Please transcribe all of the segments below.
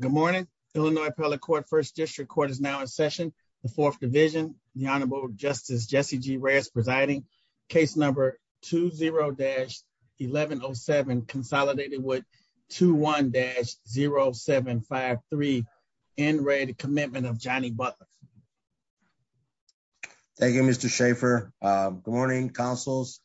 Good morning, Illinois Appellate Court First District Court is now in session, the fourth division, the Honorable Justice Jesse G. Reyes presiding, case number 20-1107 consolidated with 21-0753 NRAD Commitment of Johnny Butler. Thank you, Mr. Schaffer. Good morning, councils.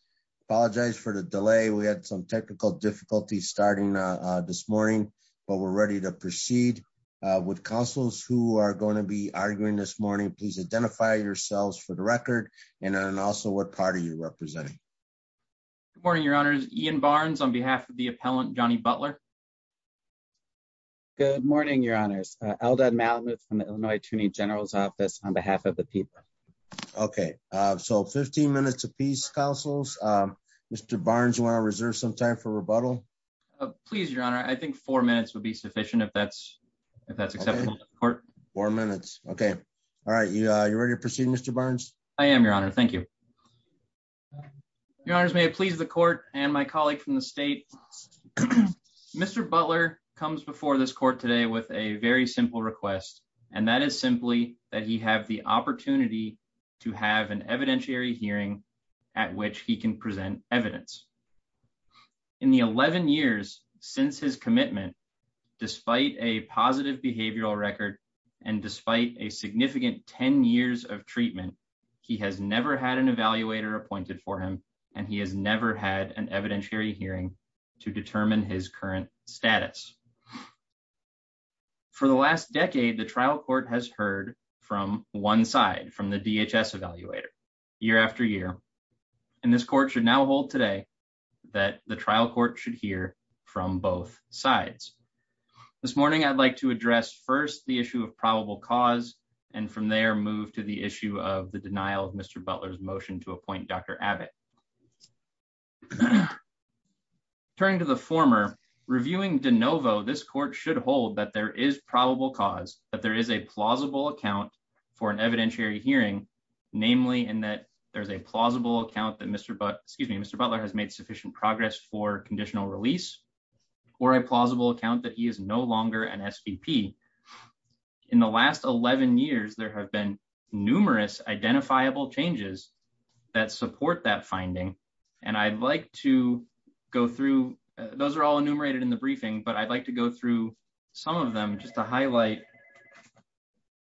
Apologize for the delay. We had some technical difficulties starting this morning, but we're ready to proceed with councils who are going to be arguing this morning. Please identify yourselves for the record, and also what party you're representing. Good morning, Your Honors. Ian Barnes on behalf of the appellant Johnny Butler. Good morning, Your Honors. Eldad Malamuth from the Illinois Attorney General's Office on behalf of the people. Okay, so 15 minutes of peace, councils. Mr. Barnes, you want to reserve some time for rebuttal? Please, Your Honor, I think four minutes would be sufficient if that's if that's acceptable to the court. Four minutes. Okay. All right. You ready to proceed, Mr. Barnes? I am, Your Honor. Thank you. Your Honors, may it please the court and my colleague from the state. Mr. Butler comes before this court today with a very simple request, and that is simply that he have the opportunity to have an evidentiary hearing at which he can present evidence. In the 11 years since his commitment, despite a positive behavioral record, and despite a significant 10 years of treatment, he has never had an evaluator appointed for him, and he has never had an evidentiary hearing to determine his current status. For the last decade, the trial court has heard from one side from the DHS evaluator year after year, and this court should now hold today that the trial court should hear from both sides. This morning, I'd like to address first the issue of probable cause and from there move to the issue of the denial of Mr. Butler's motion to appoint Dr. Abbott. Turning to the former, reviewing de novo, this court should hold that there is probable cause, that there is a plausible account for an evidentiary hearing, namely in that there's a plausible account that Mr. Butler has made sufficient progress for conditional release, or a plausible account that he is no longer an SVP. In the last 11 years there have been numerous identifiable changes that support that finding, and I'd like to go through, those are all enumerated in the briefing, but I'd like to go through some of them just to highlight,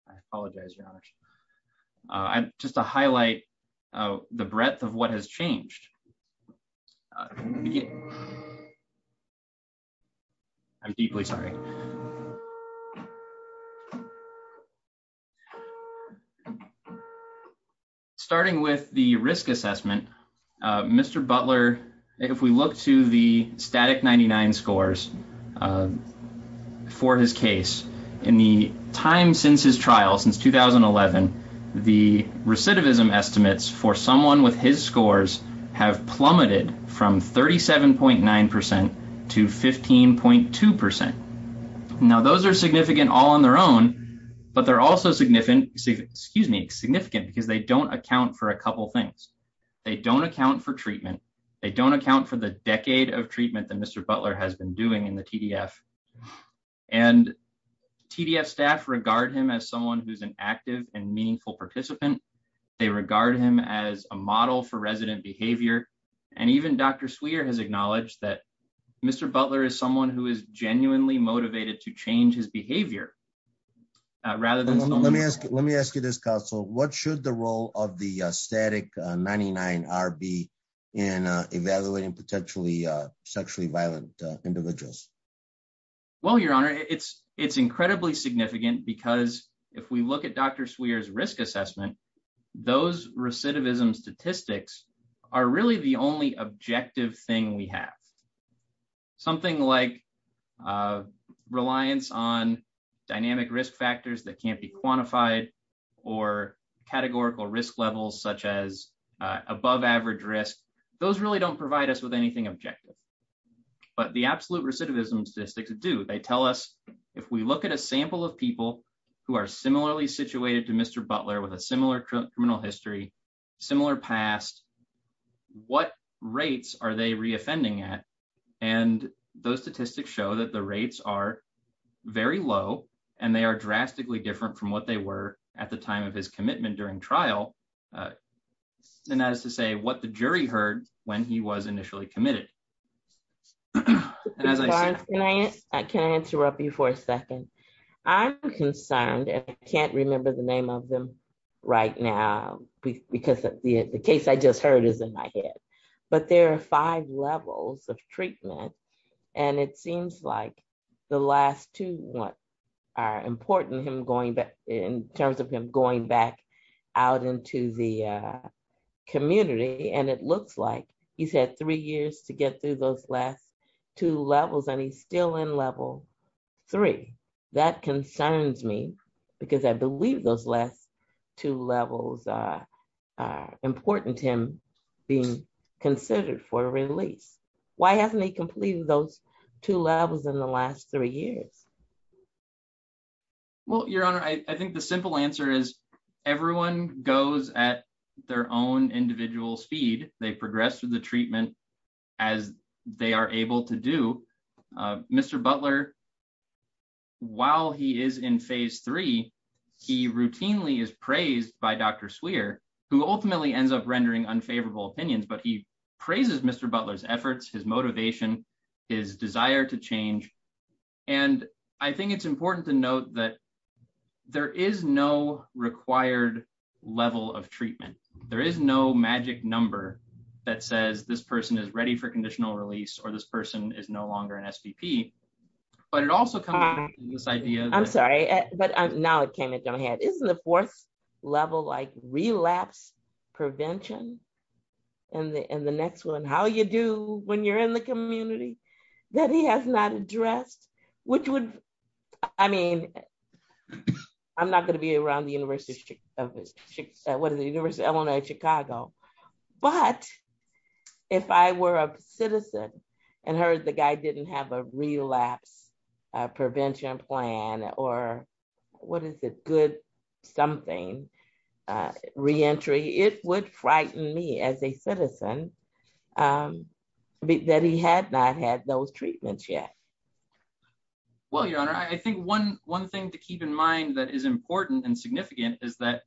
I apologize. Just to highlight the breadth of what has changed. I'm deeply sorry. Starting with the risk assessment, Mr. Butler, if we look to the static 99 scores for his case, in the time since his trial, since 2011, the recidivism estimates for someone with his scores have plummeted from 37.9% to 15.2%. Now those are significant all on their own, but they're also significant, excuse me, significant because they don't account for a couple things. They don't account for treatment. They don't account for the decade of treatment that Mr. Butler has been doing in the TDF, and TDF staff regard him as someone who's an active and meaningful participant. They regard him as a model for resident behavior, and even Dr. Swear has acknowledged that Mr. Butler is someone who is genuinely motivated to change his behavior, rather than... Let me ask you this, counsel, what should the role of the static 99 be in evaluating potentially sexually violent individuals? Well, Your Honor, it's incredibly significant because if we look at Dr. Swear's risk assessment, those recidivism statistics are really the only objective thing we have. Something like reliance on dynamic risk factors that can't be quantified or categorical risk levels such as above average risk, those really don't provide us with anything objective. But the absolute recidivism statistics do. They tell us if we look at a sample of people who are similarly situated to Mr. Butler with a similar criminal history, similar past, what rates are they reoffending at? And those statistics show that the rates are very low, and they are drastically different from what they were at the time of his commitment during trial. And that is to say what the jury heard when he was initially committed. Lawrence, can I interrupt you for a second? I'm concerned, and I can't remember the name of him right now, because the case I just heard is in my head. But there are five levels of treatment, and it seems like the last two are important in terms of him going back out into the community. And it looks like he's had three years to get through those last two levels, and he's still in level three. That concerns me, because I believe those last two levels are important to him being considered for release. Why hasn't he completed those two levels in the last three years? Well, Your Honor, I think the simple answer is everyone goes at their own individual speed. They progress through the treatment as they are able to do. Mr. Butler, while he is in phase three, he routinely is praised by Dr. Swear, who ultimately ends up rendering unfavorable opinions. But he praises Mr. Butler's efforts, his motivation, his desire to change. And I think it's important to note that there is no required level of treatment. There is no magic number that says this person is ready for conditional release or this person is no longer an STP. I'm sorry, but now it came into my head. Isn't the fourth level like relapse prevention? And the next one, how you do when you're in the community that he has not addressed, which would, I mean, I'm not going to be around the University of Chicago. But if I were a citizen and heard the guy didn't have a relapse prevention plan or what is a good something reentry, it would frighten me as a citizen that he had not had those treatments yet. Well, your honor, I think one one thing to keep in mind that is important and significant is that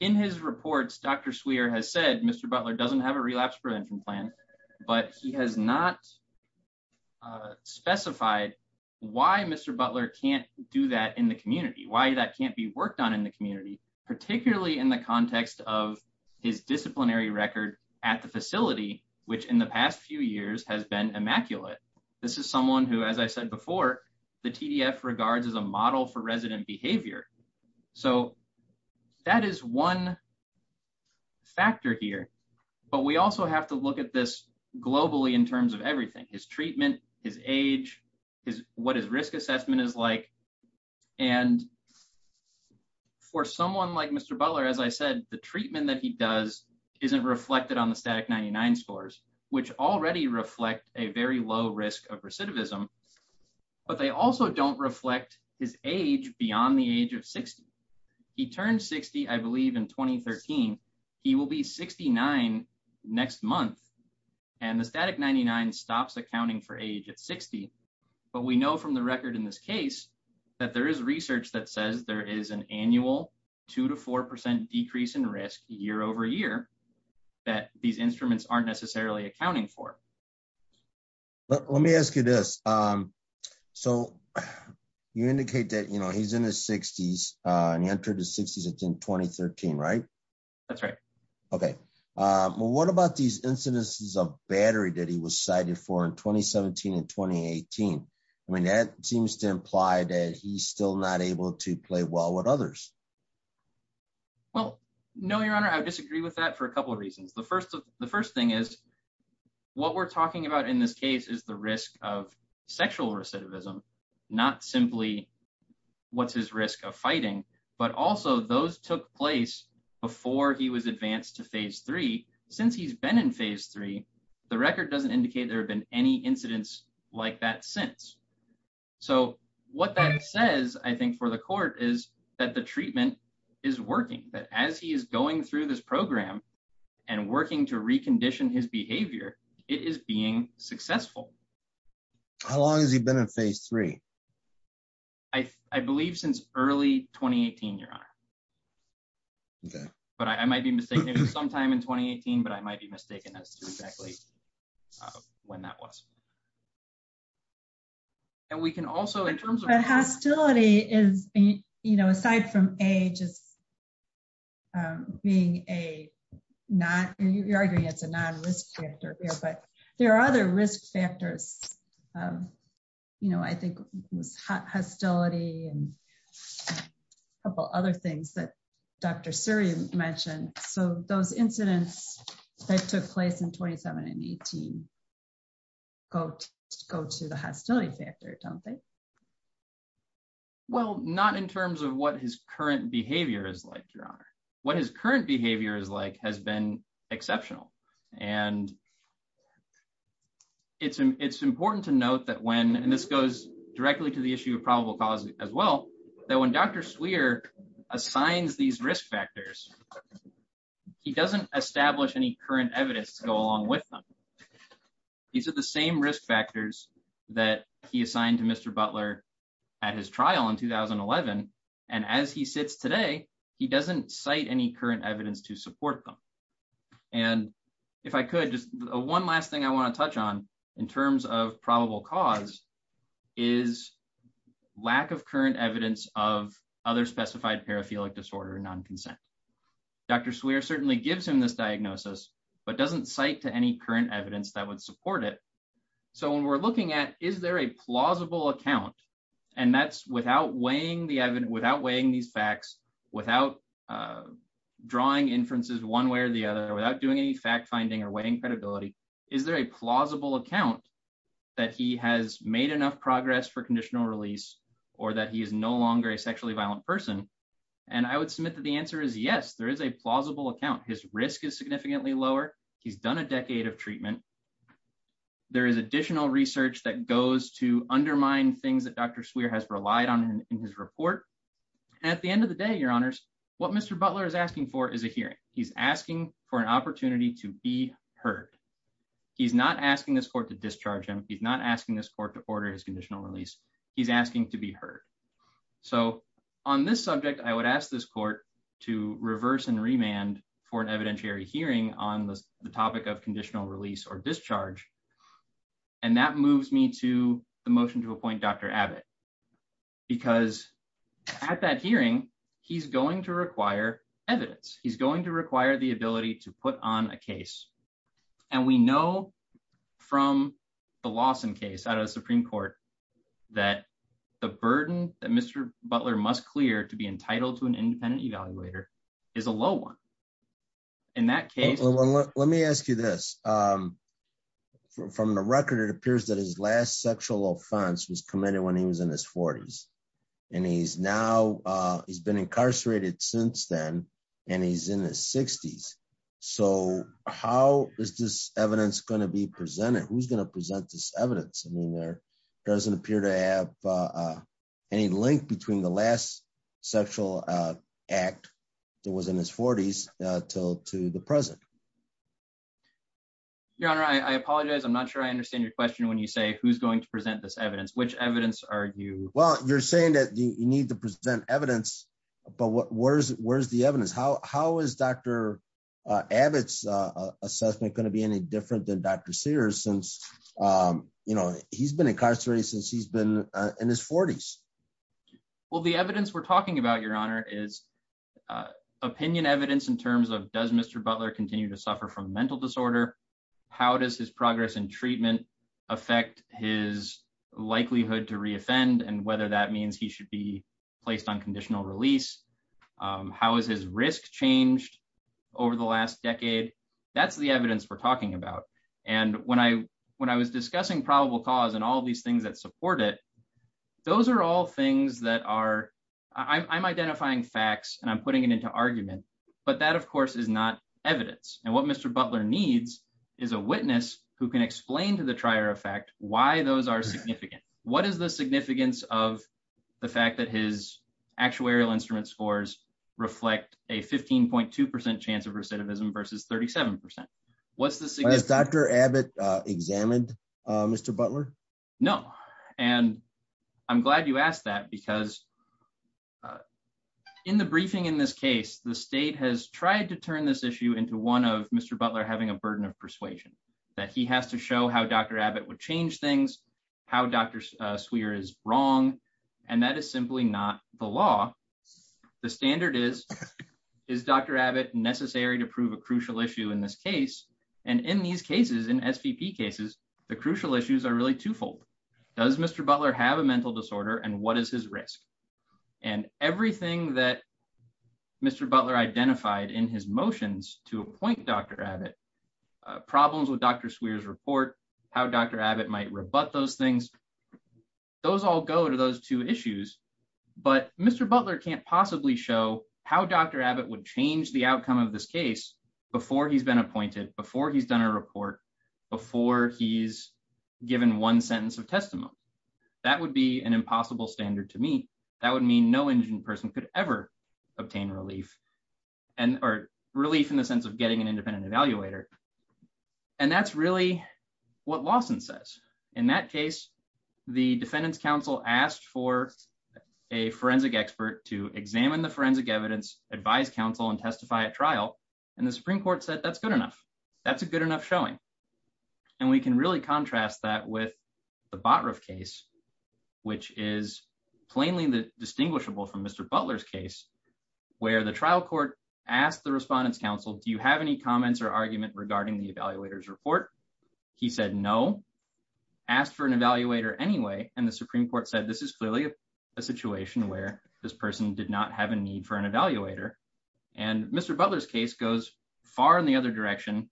in his reports, Dr. Swear has said Mr. Butler doesn't have a relapse prevention plan, but he has not specified why Mr. Butler can't do that in the community, why that can't be worked on in the community, particularly in the context of his disciplinary record at the facility, which in the past few years has been immaculate. This is someone who, as I said before, the TDF regards as a model for resident behavior. So that is one factor here. But we also have to look at this globally in terms of everything, his treatment, his age, what his risk assessment is like. And for someone like Mr. Butler, as I said, the treatment that he does isn't reflected on the static 99 scores, which already reflect a very low risk of recidivism. But they also don't reflect his age beyond the age of 60. He turned 60, I believe in 2013, he will be 69 next month. And the static 99 stops accounting for age at 60. But we know from the record in this case that there is research that says there is an annual two to 4% decrease in risk year over year that these instruments aren't necessarily accounting for. Let me ask you this. So you indicate that, you know, he's in his 60s, and he entered the 60s in 2013, right? That's right. Okay. What about these incidences of battery that he was cited for in 2017 and 2018? I mean, that seems to imply that he's still not able to play well with others. Well, no, Your Honor, I disagree with that for a couple of reasons. The first thing is what we're talking about in this case is the risk of sexual recidivism, not simply what's his risk of fighting, but also those took place before he was advanced to Phase 3. Since he's been in Phase 3, the record doesn't indicate there have been any incidents like that since. So what that says, I think, for the court is that the treatment is working, that as he is going through this program and working to recondition his behavior, it is being successful. How long has he been in Phase 3? I believe since early 2018, Your Honor. Okay. But I might be mistaken. It was sometime in 2018, but I might be mistaken as to exactly when that was. And we can also, in terms of... But hostility is, you know, aside from A, just being a not, you're arguing it's a non-risk factor here, but there are other risk factors, you know, I think hostility and a couple other things that Dr. Suri mentioned. So those incidents that took place in 2017 and 2018 go to the hostility factor, don't they? Well, not in terms of what his current behavior is like, Your Honor. What his current behavior is like has been exceptional. And it's important to note that when, and this goes directly to the issue of probable cause as well, that when Dr. Swear assigns these risk factors, he doesn't establish any current evidence to go along with them. These are the same risk factors that he assigned to Mr. Butler at his trial in 2011, and as he sits today, he doesn't cite any current evidence to support them. And if I could, just one last thing I want to touch on in terms of probable cause is lack of current evidence of other specified paraphilic disorder or non-consent. Dr. Swear certainly gives him this diagnosis, but doesn't cite to any current evidence that would support it. So when we're looking at is there a plausible account, and that's without weighing the evidence, without weighing these facts, without drawing inferences one way or the other, without doing any fact finding or weighing credibility, is there a plausible account that he has made enough progress for conditional release or that he is no longer a sexually violent person? And I would submit that the answer is yes, there is a plausible account. His risk is significantly lower. He's done a decade of treatment. There is additional research that goes to undermine things that Dr. Swear has relied on in his report. At the end of the day, your honors, what Mr. Butler is asking for is a hearing. He's asking for an opportunity to be heard. He's not asking this court to discharge him. He's not asking this court to order his conditional release. He's asking to be heard. So on this subject, I would ask this court to reverse and remand for an evidentiary hearing on the topic of conditional release or discharge. And that moves me to the motion to appoint Dr. Abbott, because at that hearing, he's going to require evidence. He's going to require the ability to put on a case. And we know from the Lawson case out of the Supreme Court that the burden that Mr. Butler must clear to be entitled to an independent evaluator is a low one. In that case... Let me ask you this. From the record, it appears that his last sexual offense was committed when he was in his 40s. And he's now, he's been incarcerated since then, and he's in his 60s. So how is this evidence going to be presented? Who's going to present this evidence? I mean, there doesn't appear to have any link between the last sexual act that was in his 40s to the present. Your honor, I apologize. I'm not sure I understand your question when you say who's going to present this evidence. Which evidence are you... Well, you're saying that you need to present evidence, but where's the evidence? How is Dr. Abbott's assessment going to be any different than Dr. Sears since, you know, he's been incarcerated since he's been in his 40s? Well, the evidence we're talking about, your honor, is opinion evidence in terms of does Mr. Butler continue to suffer from mental disorder? How does his progress in treatment affect his likelihood to reoffend and whether that means he should be placed on conditional release? How has his risk changed over the last decade? That's the evidence we're talking about. And when I was discussing probable cause and all these things that support it, those are all things that are... I'm identifying facts and I'm putting it into argument, but that of course is not evidence. And what Mr. Butler needs is a witness who can explain to the trier of fact why those are significant. What is the significance of the fact that his actuarial instrument scores reflect a 15.2% chance of recidivism versus 37%? What's the significance? Has Dr. Abbott examined Mr. Butler? No. And I'm glad you asked that because in the briefing in this case, the state has tried to turn this issue into one of Mr. Butler having a burden of persuasion, that he has to show how Dr. Abbott would change things, how Dr. Swear is wrong, and that is simply not the law. The standard is, is Dr. Abbott necessary to prove a crucial issue in this case? And in these cases, in SVP cases, the crucial issues are really twofold. Does Mr. Butler have a mental disorder and what is his risk? And everything that Mr. Butler identified in his motions to appoint Dr. Abbott, problems with Dr. Swear's report, how Dr. Abbott might rebut those things, those all go to those two issues. But Mr. Butler can't possibly show how Dr. Abbott would change the outcome of this case before he's been appointed, before he's done a report, before he's given one sentence of testimony. That would be an impossible standard to me. That would mean no indigent person could ever obtain relief and or relief in the sense of getting an independent evaluator. And that's really what Lawson says. In that case, the defendants counsel asked for a forensic expert to examine the forensic evidence, advise counsel and testify at trial. And the Supreme Court said that's good enough. That's a good enough showing. And we can really contrast that with the Batrov case, which is plainly distinguishable from Mr. Butler's case, where the trial court asked the respondents counsel, do you have any comments or argument regarding the evaluators report? He said no, asked for an evaluator anyway. And the Supreme Court said this is clearly a situation where this person did not have a need for an evaluator. And Mr. Butler's case goes far in the other direction,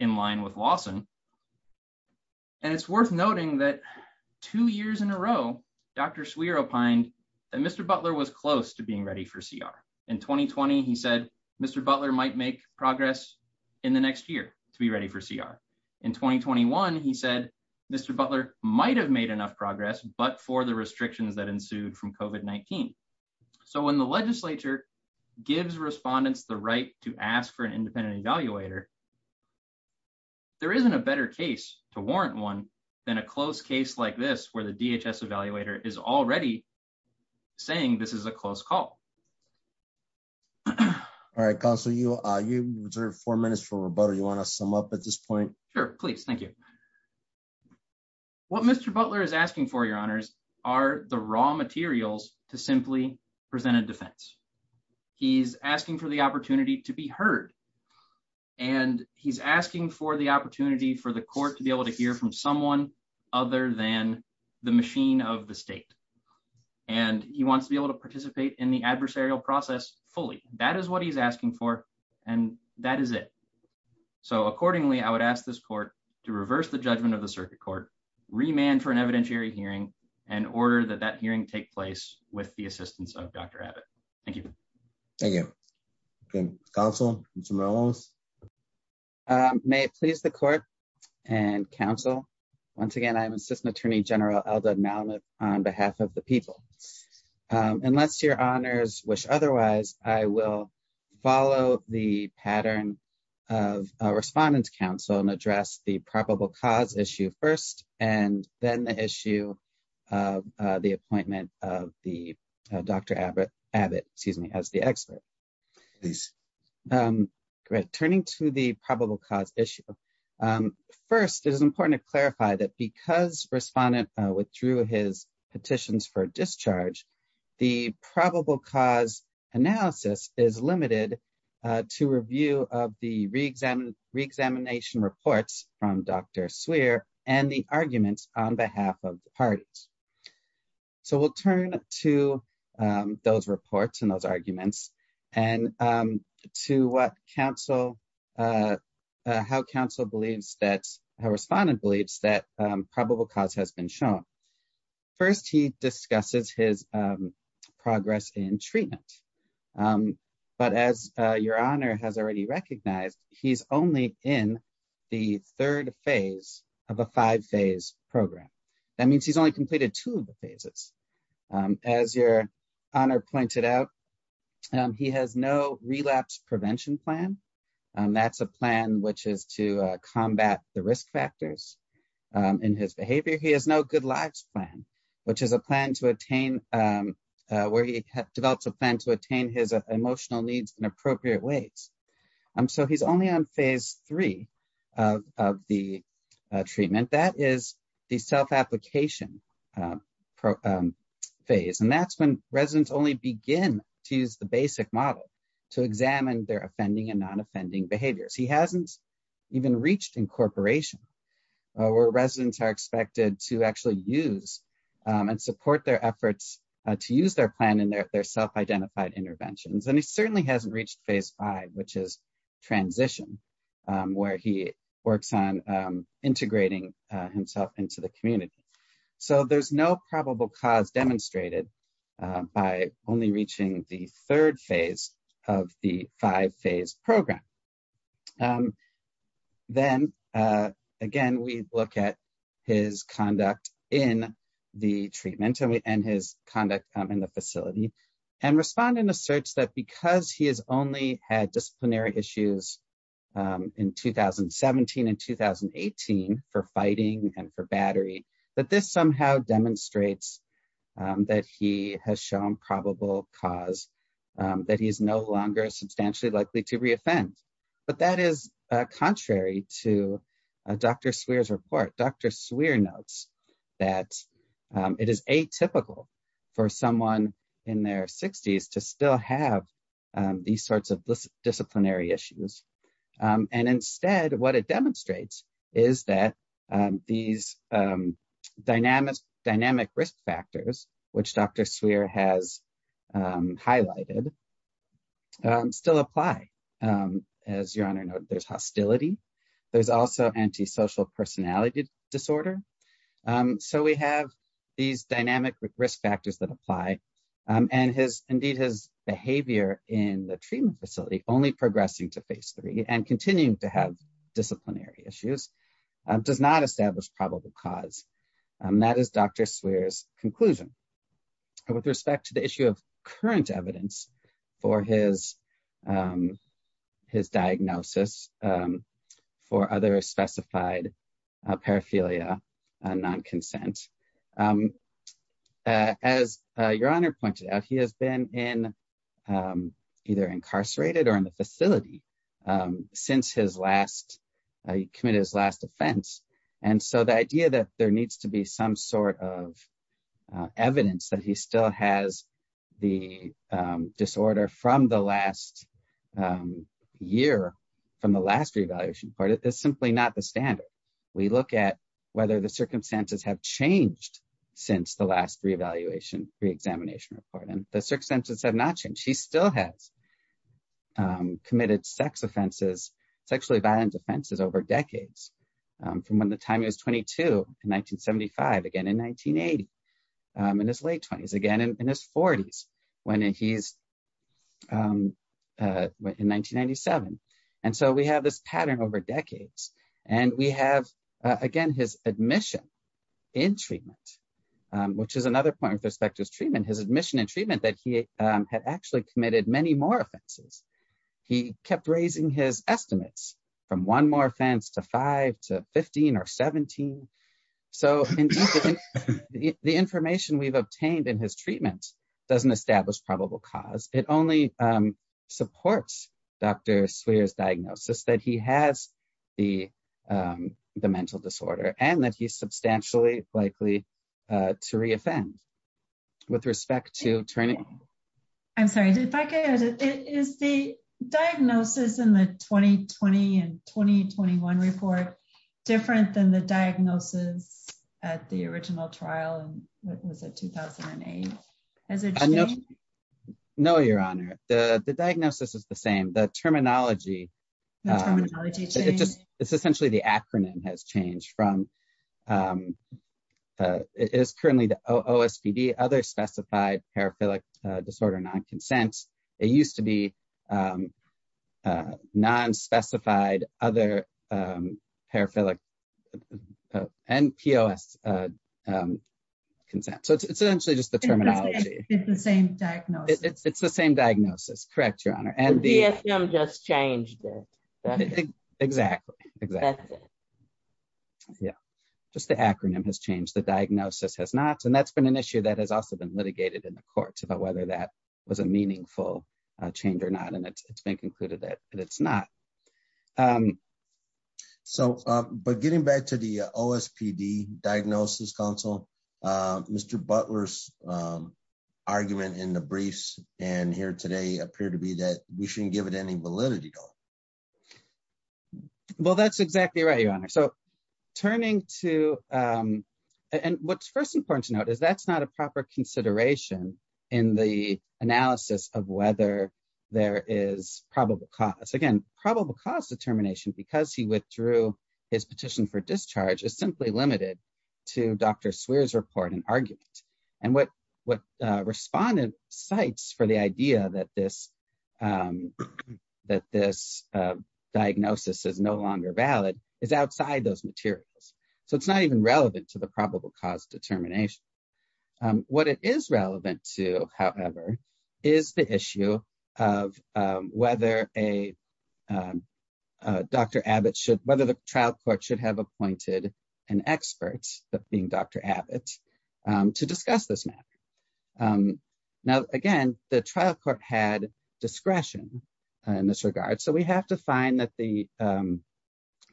in line with Lawson. And it's worth noting that two years in a row, Dr. Swear opined that Mr. Butler was close to being ready for CR. In 2020, he said, Mr. Butler might make progress in the next year to be ready for CR. In 2021, he said, Mr. Butler might have made enough progress, but for the restrictions that ensued from COVID-19. So when the legislature gives respondents the right to ask for an independent evaluator, there isn't a better case to warrant one than a close case like this, where the DHS evaluator is already saying this is a close call. All right, counsel, you reserved four minutes for rebuttal. You want to sum up at this point? Sure, please. Thank you. What Mr. Butler is asking for, your honors, are the raw materials to simply present a defense. He's asking for the opportunity to be heard. And he's asking for the opportunity for the court to be able to hear from someone other than the machine of the state. And he wants to be able to participate in the adversarial process fully. That is what he's asking for. And that is it. So accordingly, I would ask this court to reverse the judgment of the circuit court, remand for an evidentiary hearing, and order that that hearing take place with the assistance of Dr. Abbott. Thank you. Thank you. Counsel? May it please the court and counsel. Once again, I'm Assistant Attorney General Eldad Malamud on behalf of the people. Unless your honors wish otherwise, I will follow the pattern of respondent's counsel and address the probable cause issue first, and then the issue of the appointment of the Dr. Abbott, excuse me, as the expert. Turning to the probable cause issue. First, it is important to clarify that because respondent withdrew his petitions for discharge, the probable cause analysis is limited to review of the reexamination reports from Dr. Swear and the arguments on behalf of the parties. So we'll turn to those reports and those arguments and to what counsel, how counsel believes that, how respondent believes that probable cause has been shown. First, he discusses his progress in treatment. But as your honor has already recognized, he's only in the third phase of a five phase program. That means he's only completed two of the phases. As your honor pointed out, he has no relapse prevention plan. That's a plan which is to combat the risk factors in his behavior. He has no good lives plan, which is a plan to attain, where he develops a plan to attain his emotional needs in appropriate ways. So he's only on phase three of the treatment. That is the self-application phase. And that's when residents only begin to use the basic model to examine their offending and non-offending behaviors. He hasn't even reached incorporation, where residents are expected to actually use and support their efforts to use their plan in their self-identified interventions. And he certainly hasn't reached phase five, which is transition, where he works on integrating himself into the community. So there's no probable cause demonstrated by only reaching the third phase of the five phase program. Then, again, we look at his conduct in the treatment and his conduct in the facility and respond in a search that because he has only had disciplinary issues in 2017 and 2018 for fighting and for battery, that this somehow demonstrates that he has shown probable cause, that he is no longer substantially likely to reoffend. But that is contrary to Dr. Swear's report. Dr. Swear notes that it is atypical for someone in their 60s to still have these sorts of disciplinary issues. And instead, what it demonstrates is that these dynamic risk factors, which Dr. Swear has highlighted, still apply. As your honor noted, there's hostility. There's also antisocial personality disorder. So we have these dynamic risk factors that apply. And indeed, his behavior in the treatment facility, only progressing to phase three and continuing to have disciplinary issues, does not establish probable cause. That is Dr. Swear's conclusion. With respect to the issue of current evidence for his diagnosis for other specified paraphilia non-consent, as your honor pointed out, he has been either incarcerated or in the facility since he committed his last offense. And so the idea that there needs to be some sort of evidence that he still has the disorder from the last year, from the last reevaluation report, is simply not the standard. We look at whether the circumstances have changed since the last reevaluation, reexamination report. And the circumstances have not changed. He still has committed sex offenses, sexually violent offenses over decades, from when the time he was 22 in 1975, again in 1980, in his late 20s, again in his 40s, when he's in 1997. And so we have this pattern over decades. And we have, again, his admission in treatment, which is another point with respect to his treatment, his admission and treatment that he had actually committed many more offenses. He kept raising his estimates from one more offense to five to 15 or 17. So the information we've obtained in his treatment doesn't establish probable cause. It only supports Dr. Swear's diagnosis that he has the mental disorder and that he's substantially likely to reoffend. With respect to training. I'm sorry, if I could, is the diagnosis in the 2020 and 2021 report different than the diagnosis at the original trial in, what was it, 2008? No, Your Honor. The diagnosis is the same. The terminology. It's essentially the acronym has changed from it is currently the OSPD, Other Specified Paraphilic Disorder Non-Consent. It used to be Non-Specified Other Paraphilic and POS Consent. So it's essentially just the terminology. It's the same diagnosis. It's the same diagnosis. Correct, Your Honor. And the DSM just changed it. Exactly. Exactly. Yeah, just the acronym has changed. The diagnosis has not. And that's been an issue that has also been litigated in the courts about whether that was a meaningful change or not. And it's been concluded that it's not. So, but getting back to the OSPD Diagnosis Council, Mr. Butler's argument in the briefs and here today appear to be that we shouldn't give it any validity though. Well, that's exactly right, Your Honor. So turning to and what's first important to note is that's not a proper consideration in the analysis of whether there is probable cause. Again, probable cause determination because he withdrew his petition for discharge is simply limited to Dr. Swear's report and argument. And what respondent cites for the idea that this diagnosis is no longer valid is outside those materials. So it's not even relevant to the probable cause determination. What it is relevant to, however, is the issue of whether Dr. Abbott should, whether the trial court should have appointed an expert, being Dr. Abbott, to discuss this matter. Now, again, the trial court had discretion in this regard. So we have to find that the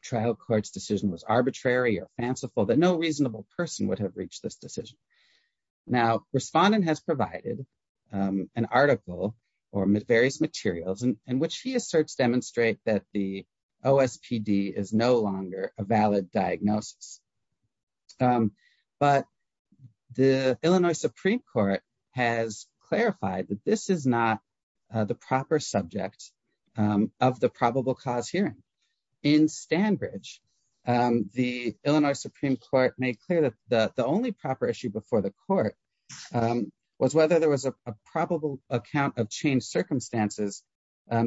trial court's decision was arbitrary or fanciful that no reasonable person would have reached this decision. Now, respondent has provided an article or various materials in which he asserts demonstrate that the OSPD is no longer a valid diagnosis. But the Illinois Supreme Court has clarified that this is not the proper subject of the probable cause hearing. In Stanbridge, the Illinois Supreme Court made clear that the only proper issue before the court was whether there was a probable account of changed circumstances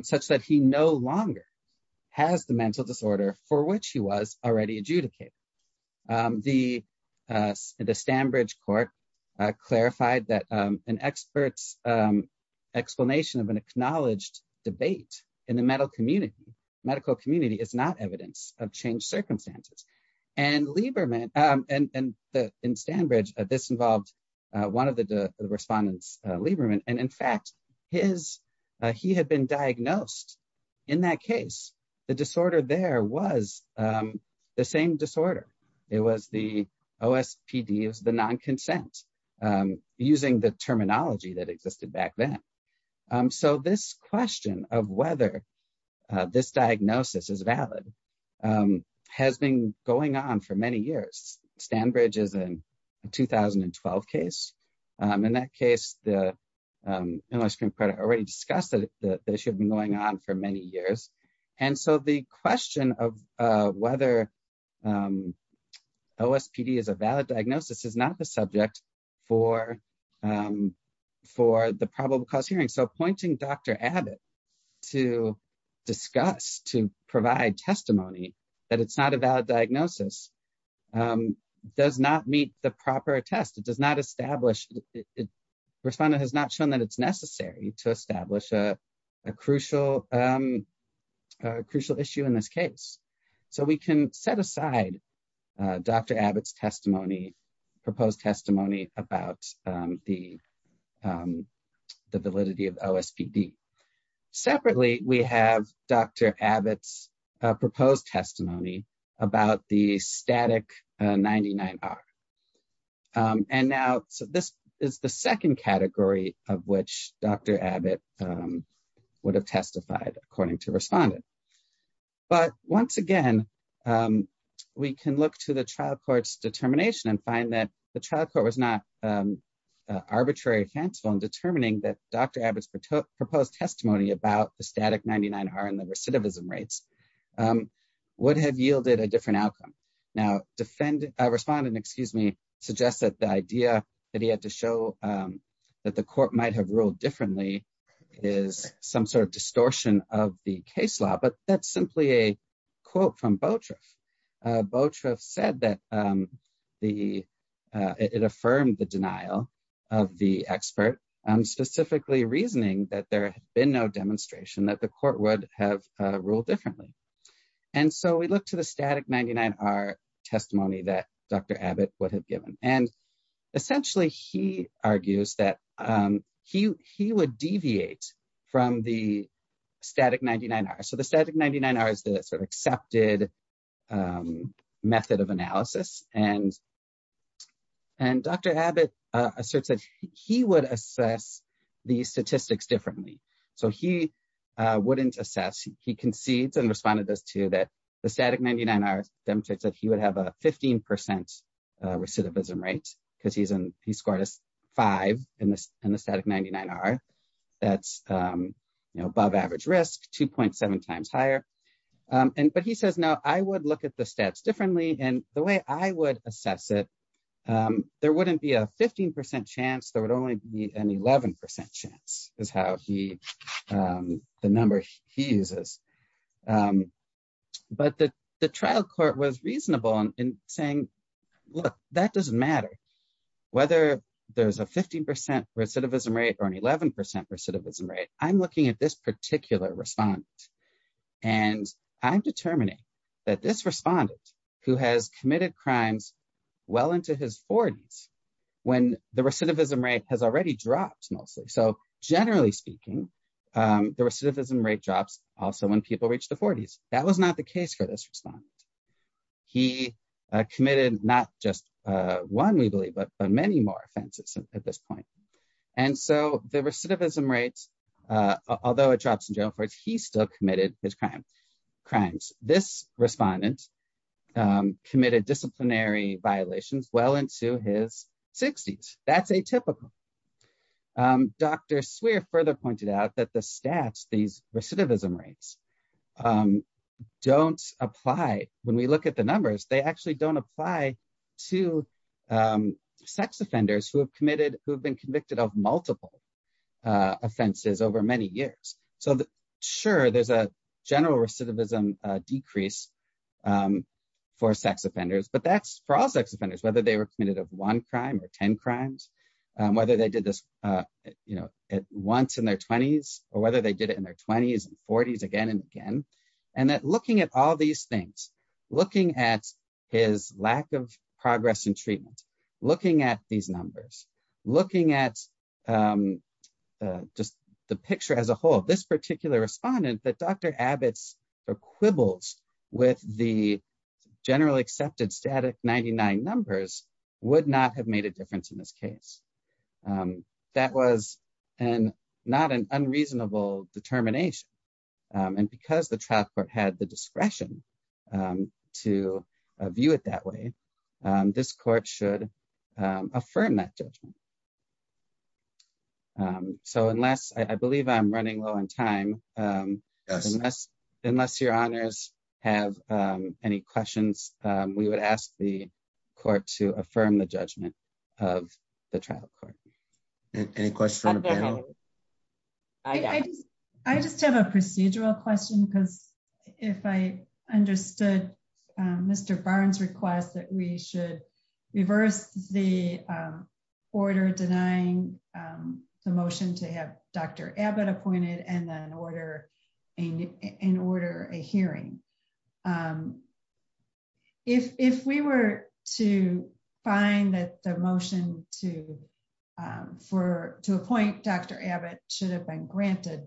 such that he no longer has the mental disorder for which he was already adjudicated. The Stanbridge court clarified that an expert's evidence of an acknowledged debate in the medical community is not evidence of changed circumstances. And in Stanbridge, this involved one of the respondents, Lieberman, and in fact, he had been diagnosed. In that case, the disorder there was the same disorder. It was the OSPD, it was the non-consent, using the terminology that existed back then. So this question of whether this diagnosis is valid has been going on for many years. Stanbridge is a 2012 case. In that case, the Illinois Supreme Court already discussed that they should be going on for many years. And so the question of whether OSPD is a valid diagnosis is not the subject for the probable cause hearing. So pointing Dr. Abbott to discuss, to provide testimony that it's not a valid diagnosis does not meet the proper test. Respondent has not shown that it's necessary to establish a crucial issue in this case. So we can set aside Dr. Abbott's testimony, proposed testimony about the validity of OSPD. Separately, we have Dr. Abbott's proposed testimony about the static 99R. And now, so this is the second category of which Dr. Abbott would have testified according to respondent. But once again, we can look to the trial court's determination and find that the trial court was not arbitrary or fanciful in determining that Dr. Abbott's proposed testimony about the static 99R and the recidivism rates would have yielded a different outcome. Now, respondent suggests that the idea that he had to show that the court might have ruled differently is some sort of distortion of the case law, but that's simply a quote from Boutroff. Boutroff said that it affirmed the denial of the expert, specifically reasoning that there had been no demonstration that the court would have ruled differently. And so we look to the static 99R testimony that Dr. Abbott would have given. And essentially, he argues that he would deviate from the static 99R. So the static 99R is the sort of accepted method of analysis. And Dr. Abbott asserts that he would assess the statistics differently. So he wouldn't assess. He concedes and responded to that the static 99R demonstrates that he would have a 15% recidivism rate because he scored a 5 in the static 99R. That's above average risk, 2.7 times higher. But he says, no, I would look at the stats differently. And the way I would assess it, there wouldn't be a 15% chance, there would only be an 11% chance is how he, the number he uses. But the trial court was reasonable in saying, look, that doesn't matter whether there's a 15% recidivism rate or an 11% recidivism rate, I'm looking at this particular respondent. And I'm determining that this respondent who has committed crimes well into his 40s, when the recidivism rate has already dropped mostly. So generally speaking, the recidivism rate drops also when people reach the 40s. That was not the case for this respondent. He committed not just one, we believe, but many more offenses at this point. And so the recidivism rates, although it drops in general, he still committed his crimes. This respondent committed disciplinary violations well into his 60s. That's atypical. Dr. Swear further pointed out that the stats, these recidivism rates, don't apply. When we look at the numbers, they actually don't apply to sex offenders who have been convicted of multiple offenses over many years. Sure, there's a general recidivism decrease for sex offenders, but that's for all sex offenders, whether they were committed of one crime or 10 crimes, whether they did this once in their 20s, or whether they did it in their 20s and 40s again and again. And that looking at all these things, looking at his lack of progress in treatment, looking at these numbers, looking at just the picture as a whole, this particular respondent that Dr. Abbott's quibbles with the generally accepted static 99 numbers would not have made a difference in this case. That was not an unreasonable determination. And because the trial court had the discretion to view it that way, this court should affirm that judgment. So unless I believe I'm running low on time. Unless, unless your honors have any questions, we would ask the court to affirm the judgment of the trial court. Any questions. I just have a procedural question because if I understood. Mr Barnes request that we should reverse the order denying the motion to have Dr. Abbott appointed and then order in order a hearing. If we were to find that the motion to for to appoint Dr. Abbott should have been granted.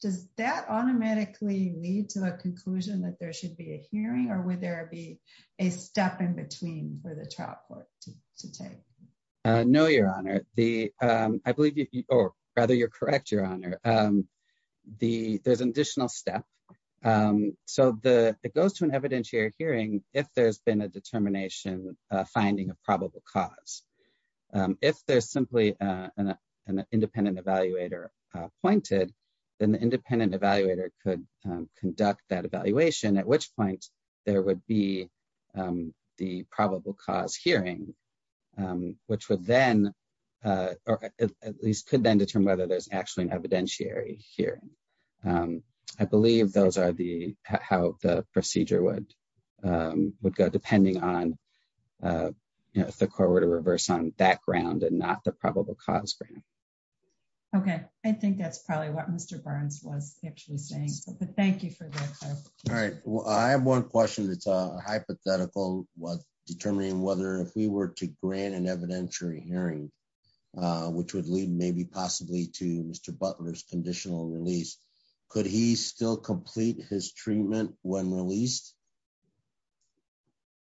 Does that automatically lead to a conclusion that there should be a hearing or would there be a step in between for the trial court to take. No, Your Honor, the, I believe, or rather you're correct Your Honor. The there's an additional step. So the, it goes to an evidentiary hearing, if there's been a determination, finding a probable cause. If there's simply an independent evaluator pointed in the independent evaluator could conduct that evaluation at which point, there would be the probable cause hearing, which would then at least could then determine whether there's actually an evidentiary hearing. I believe those are the how the procedure would would go depending on the corridor reverse on that ground and not the probable cause. Okay, I think that's probably what Mr. Burns was actually saying, but thank you for that. All right, well I have one question that's a hypothetical was determining whether if we were to grant an evidentiary hearing, which would lead maybe possibly to Mr Butler's conditional release. Could he still complete his treatment, when released.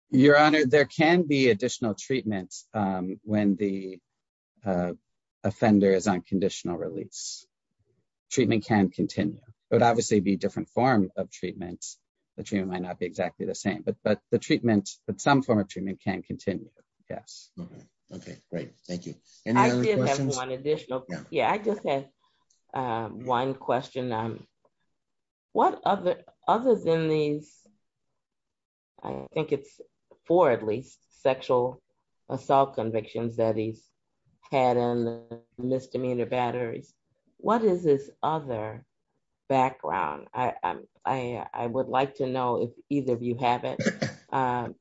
Your Honor, there can be additional treatments. When the offenders on conditional release. Treatment can continue, but obviously be different form of treatments that you might not be exactly the same but but the treatments that some form of treatment can continue. Yes. Okay, great. Thank you. One additional. Yeah, I just had one question. What other other than these. I think it's for at least sexual assault convictions that he's had and misdemeanor batteries. What is this other background, I, I would like to know if either of you have it.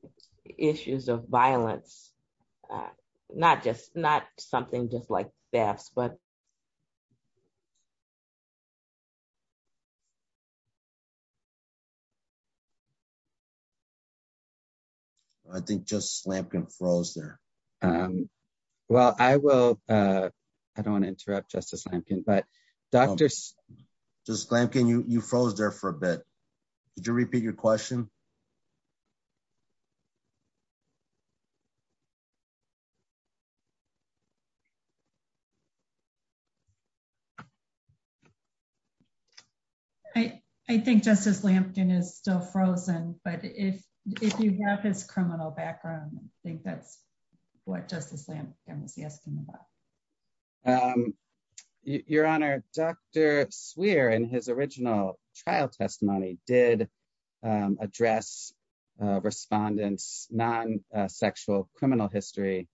issues of violence, not just not something just like that, but I think just slam can froze there. Well, I will. I don't want to interrupt Justice Lampkin but doctors, just like can you froze there for a bit. Did you repeat your question. I, I think Justice Lampkin is still frozen, but if, if you have his criminal background, I think that's what Justice Lampkin was asking about your honor, Dr. Swear and his original trial testimony did address respondents non sexual criminal history.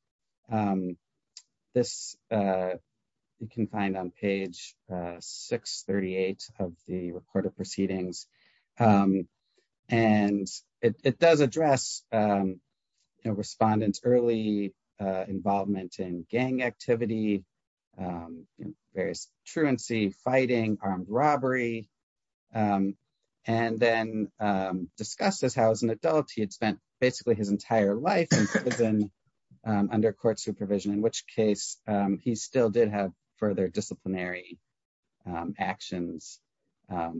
This, you can find on page 638 of the report of proceedings. And it does address respondents early involvement in gang activity, various truancy fighting armed robbery. And then discusses how as an adult he had spent basically his entire life in prison under court supervision in which case, he still did have further disciplinary actions that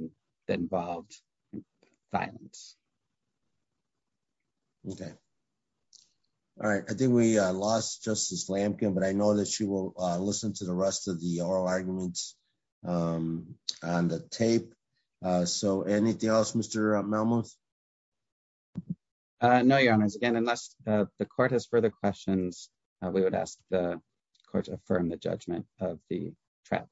involved violence. Okay. All right, I think we lost Justice Lampkin but I know that she will listen to the rest of the oral arguments on the tape. So anything else Mr. Melmoth. No, your honors and unless the court has further questions, we would ask the court to affirm the judgment of the trap.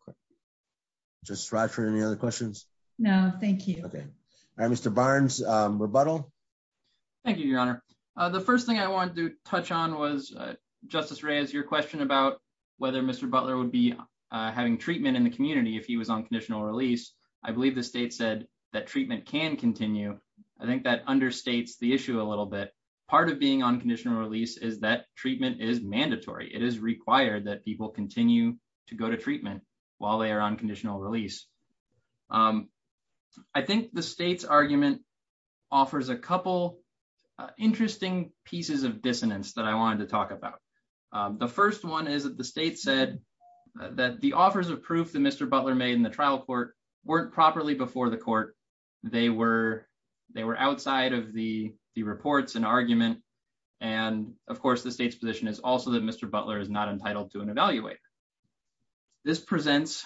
Just right for any other questions. No, thank you. Okay. Mr Barnes rebuttal. Thank you, Your Honor. The first thing I wanted to touch on was Justice Reyes your question about whether Mr Butler would be having treatment in the community if he was on conditional release. I believe the state said that treatment can continue. I think that understates the issue a little bit. Part of being on conditional release is that treatment is mandatory it is required that people continue to go to treatment, while they are on conditional release. I think the state's argument offers a couple interesting pieces of dissonance that I wanted to talk about. The first one is that the state said that the offers of proof that Mr Butler made in the trial court weren't properly before the court. They were, they were outside of the, the reports and argument. And, of course, the state's position is also that Mr Butler is not entitled to an evaluator. This presents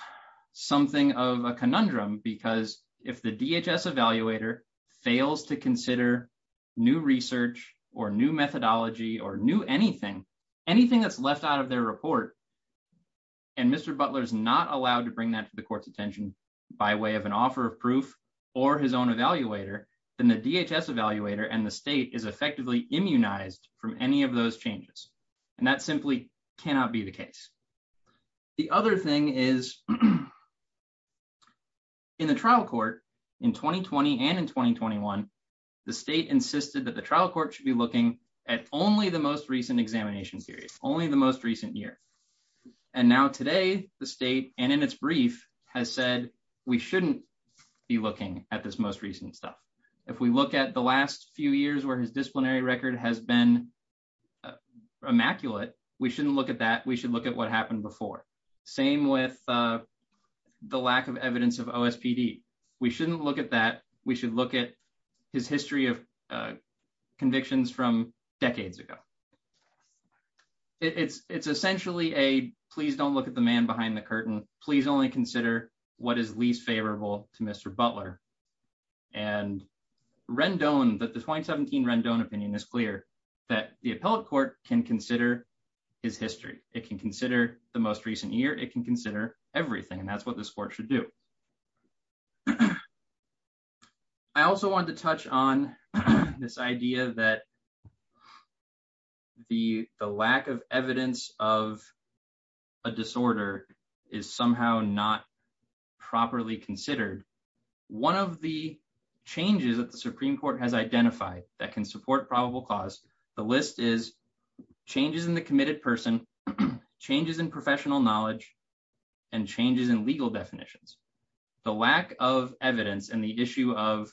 something of a conundrum because if the DHS evaluator fails to consider new research or new methodology or new anything, anything that's left out of their report. And Mr Butler is not allowed to bring that to the court's attention by way of an offer of proof, or his own evaluator than the DHS evaluator and the state is effectively immunized from any of those changes. And that simply cannot be the case. The other thing is in the trial court in 2020 and in 2021, the state insisted that the trial court should be looking at only the most recent examination series, only the most recent year. And now today, the state, and in its brief has said, we shouldn't be looking at this most recent stuff. If we look at the last few years where his disciplinary record has been immaculate, we shouldn't look at that we should look at what happened before. Same with the lack of evidence of OSPD. We shouldn't look at that, we should look at his history of convictions from decades ago. It's, it's essentially a, please don't look at the man behind the curtain, please only consider what is least favorable to Mr Butler and Rendon that the 2017 Rendon opinion is clear that the appellate court can consider his history, it can consider the most recent year it can consider everything and that's what the sport should do. I also wanted to touch on this idea that the, the lack of evidence of a disorder is somehow not properly considered. One of the changes that the Supreme Court has identified that can support probable cause. The list is changes in the committed person changes in professional knowledge and changes in legal definitions, the lack of evidence and the issue of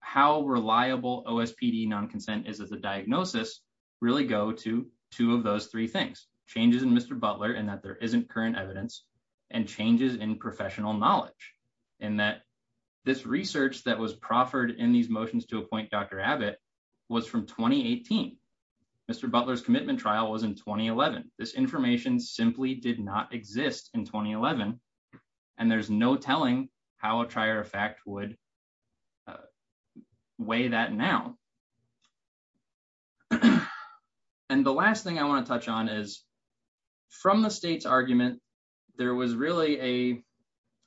how reliable OSPD non consent is as a diagnosis, really go to two of those three things, changes in Mr Butler and that there isn't current evidence and changes in professional knowledge, and that this research that was proffered in these motions to appoint Dr Abbott was from 2018. Mr Butler's commitment trial was in 2011, this information simply did not exist in 2011. And there's no telling how a trier effect would weigh that now. And the last thing I want to touch on is from the state's argument. There was really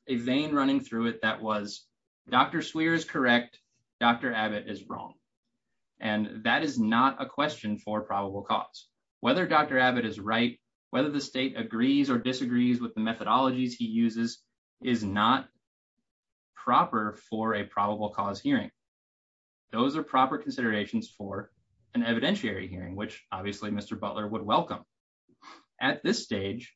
a vein running through it that was Dr swears correct. Dr Abbott is wrong. And that is not a question for probable cause, whether Dr Abbott is right, whether the state agrees or disagrees with the methodologies he uses is not proper for a probable cause hearing. Those are proper considerations for an evidentiary hearing which obviously Mr Butler would welcome. At this stage,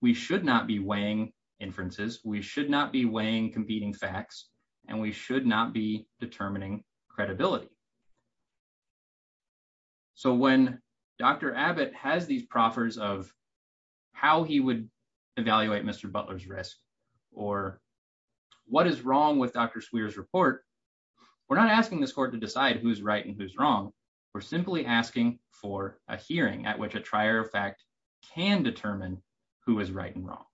we should not be weighing inferences, we should not be weighing competing facts, and we should not be determining credibility. So when Dr Abbott has these proffers of how he would evaluate Mr Butler's risk, or what is wrong with Dr swears report. We're not asking this court to decide who's right and who's wrong. We're simply asking for a hearing at which a trier effect can determine who is right and wrong.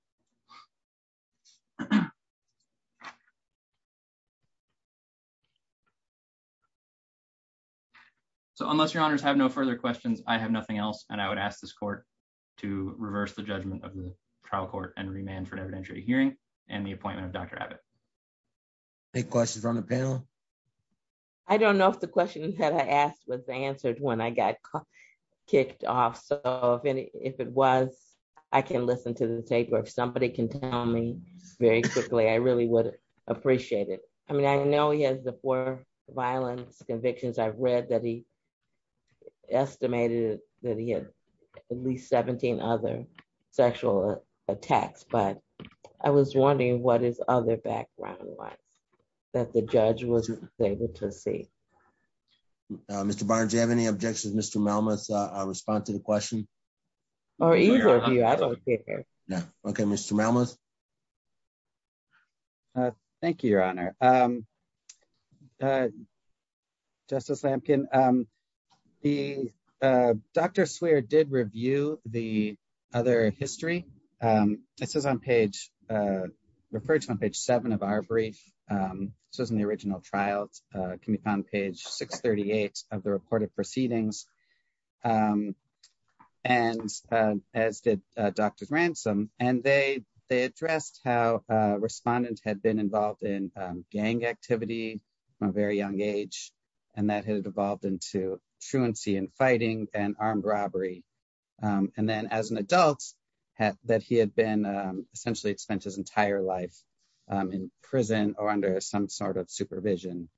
So unless your honors have no further questions, I have nothing else, and I would ask this court to reverse the judgment of the trial court and remand for an evidentiary hearing, and the appointment of Dr Abbott. Any questions from the panel. I don't know if the question that I asked was answered when I got kicked off so if it was, I can listen to the tape or if somebody can tell me very quickly I really would appreciate it. I mean I know he has the for violence convictions I've read that he estimated that he had at least 17 other sexual attacks but I was wondering what is other background was that the judge was able to see. Mr Barnes you have any objections Mr moments, I respond to the question. I don't care. Okay, Mr mamas. Thank you, Your Honor. Justice Lampkin. The doctor swear did review the other history. This is on page. referred to on page seven of our brief says in the original trials can be found page 638 of the report of proceedings. And, as did Dr ransom, and they, they addressed how respondents had been involved in gang activity, a very young age, and that had evolved into truancy and fighting and armed robbery. And then as an adult, had that he had been essentially spent his entire life in prison or under some sort of supervision.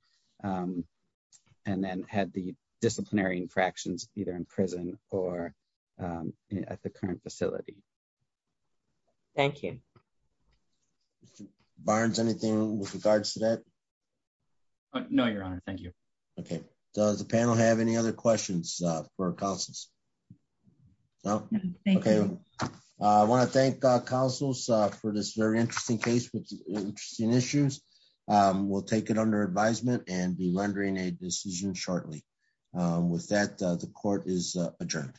And then had the disciplinary infractions, either in prison, or at the current facility. Thank you. Barnes anything with regards to that. No, Your Honor. Thank you. Okay. Does the panel have any other questions for us. Okay. I want to thank councils for this very interesting case with interesting issues. We'll take it under advisement and be rendering a decision shortly. With that, the court is adjourned.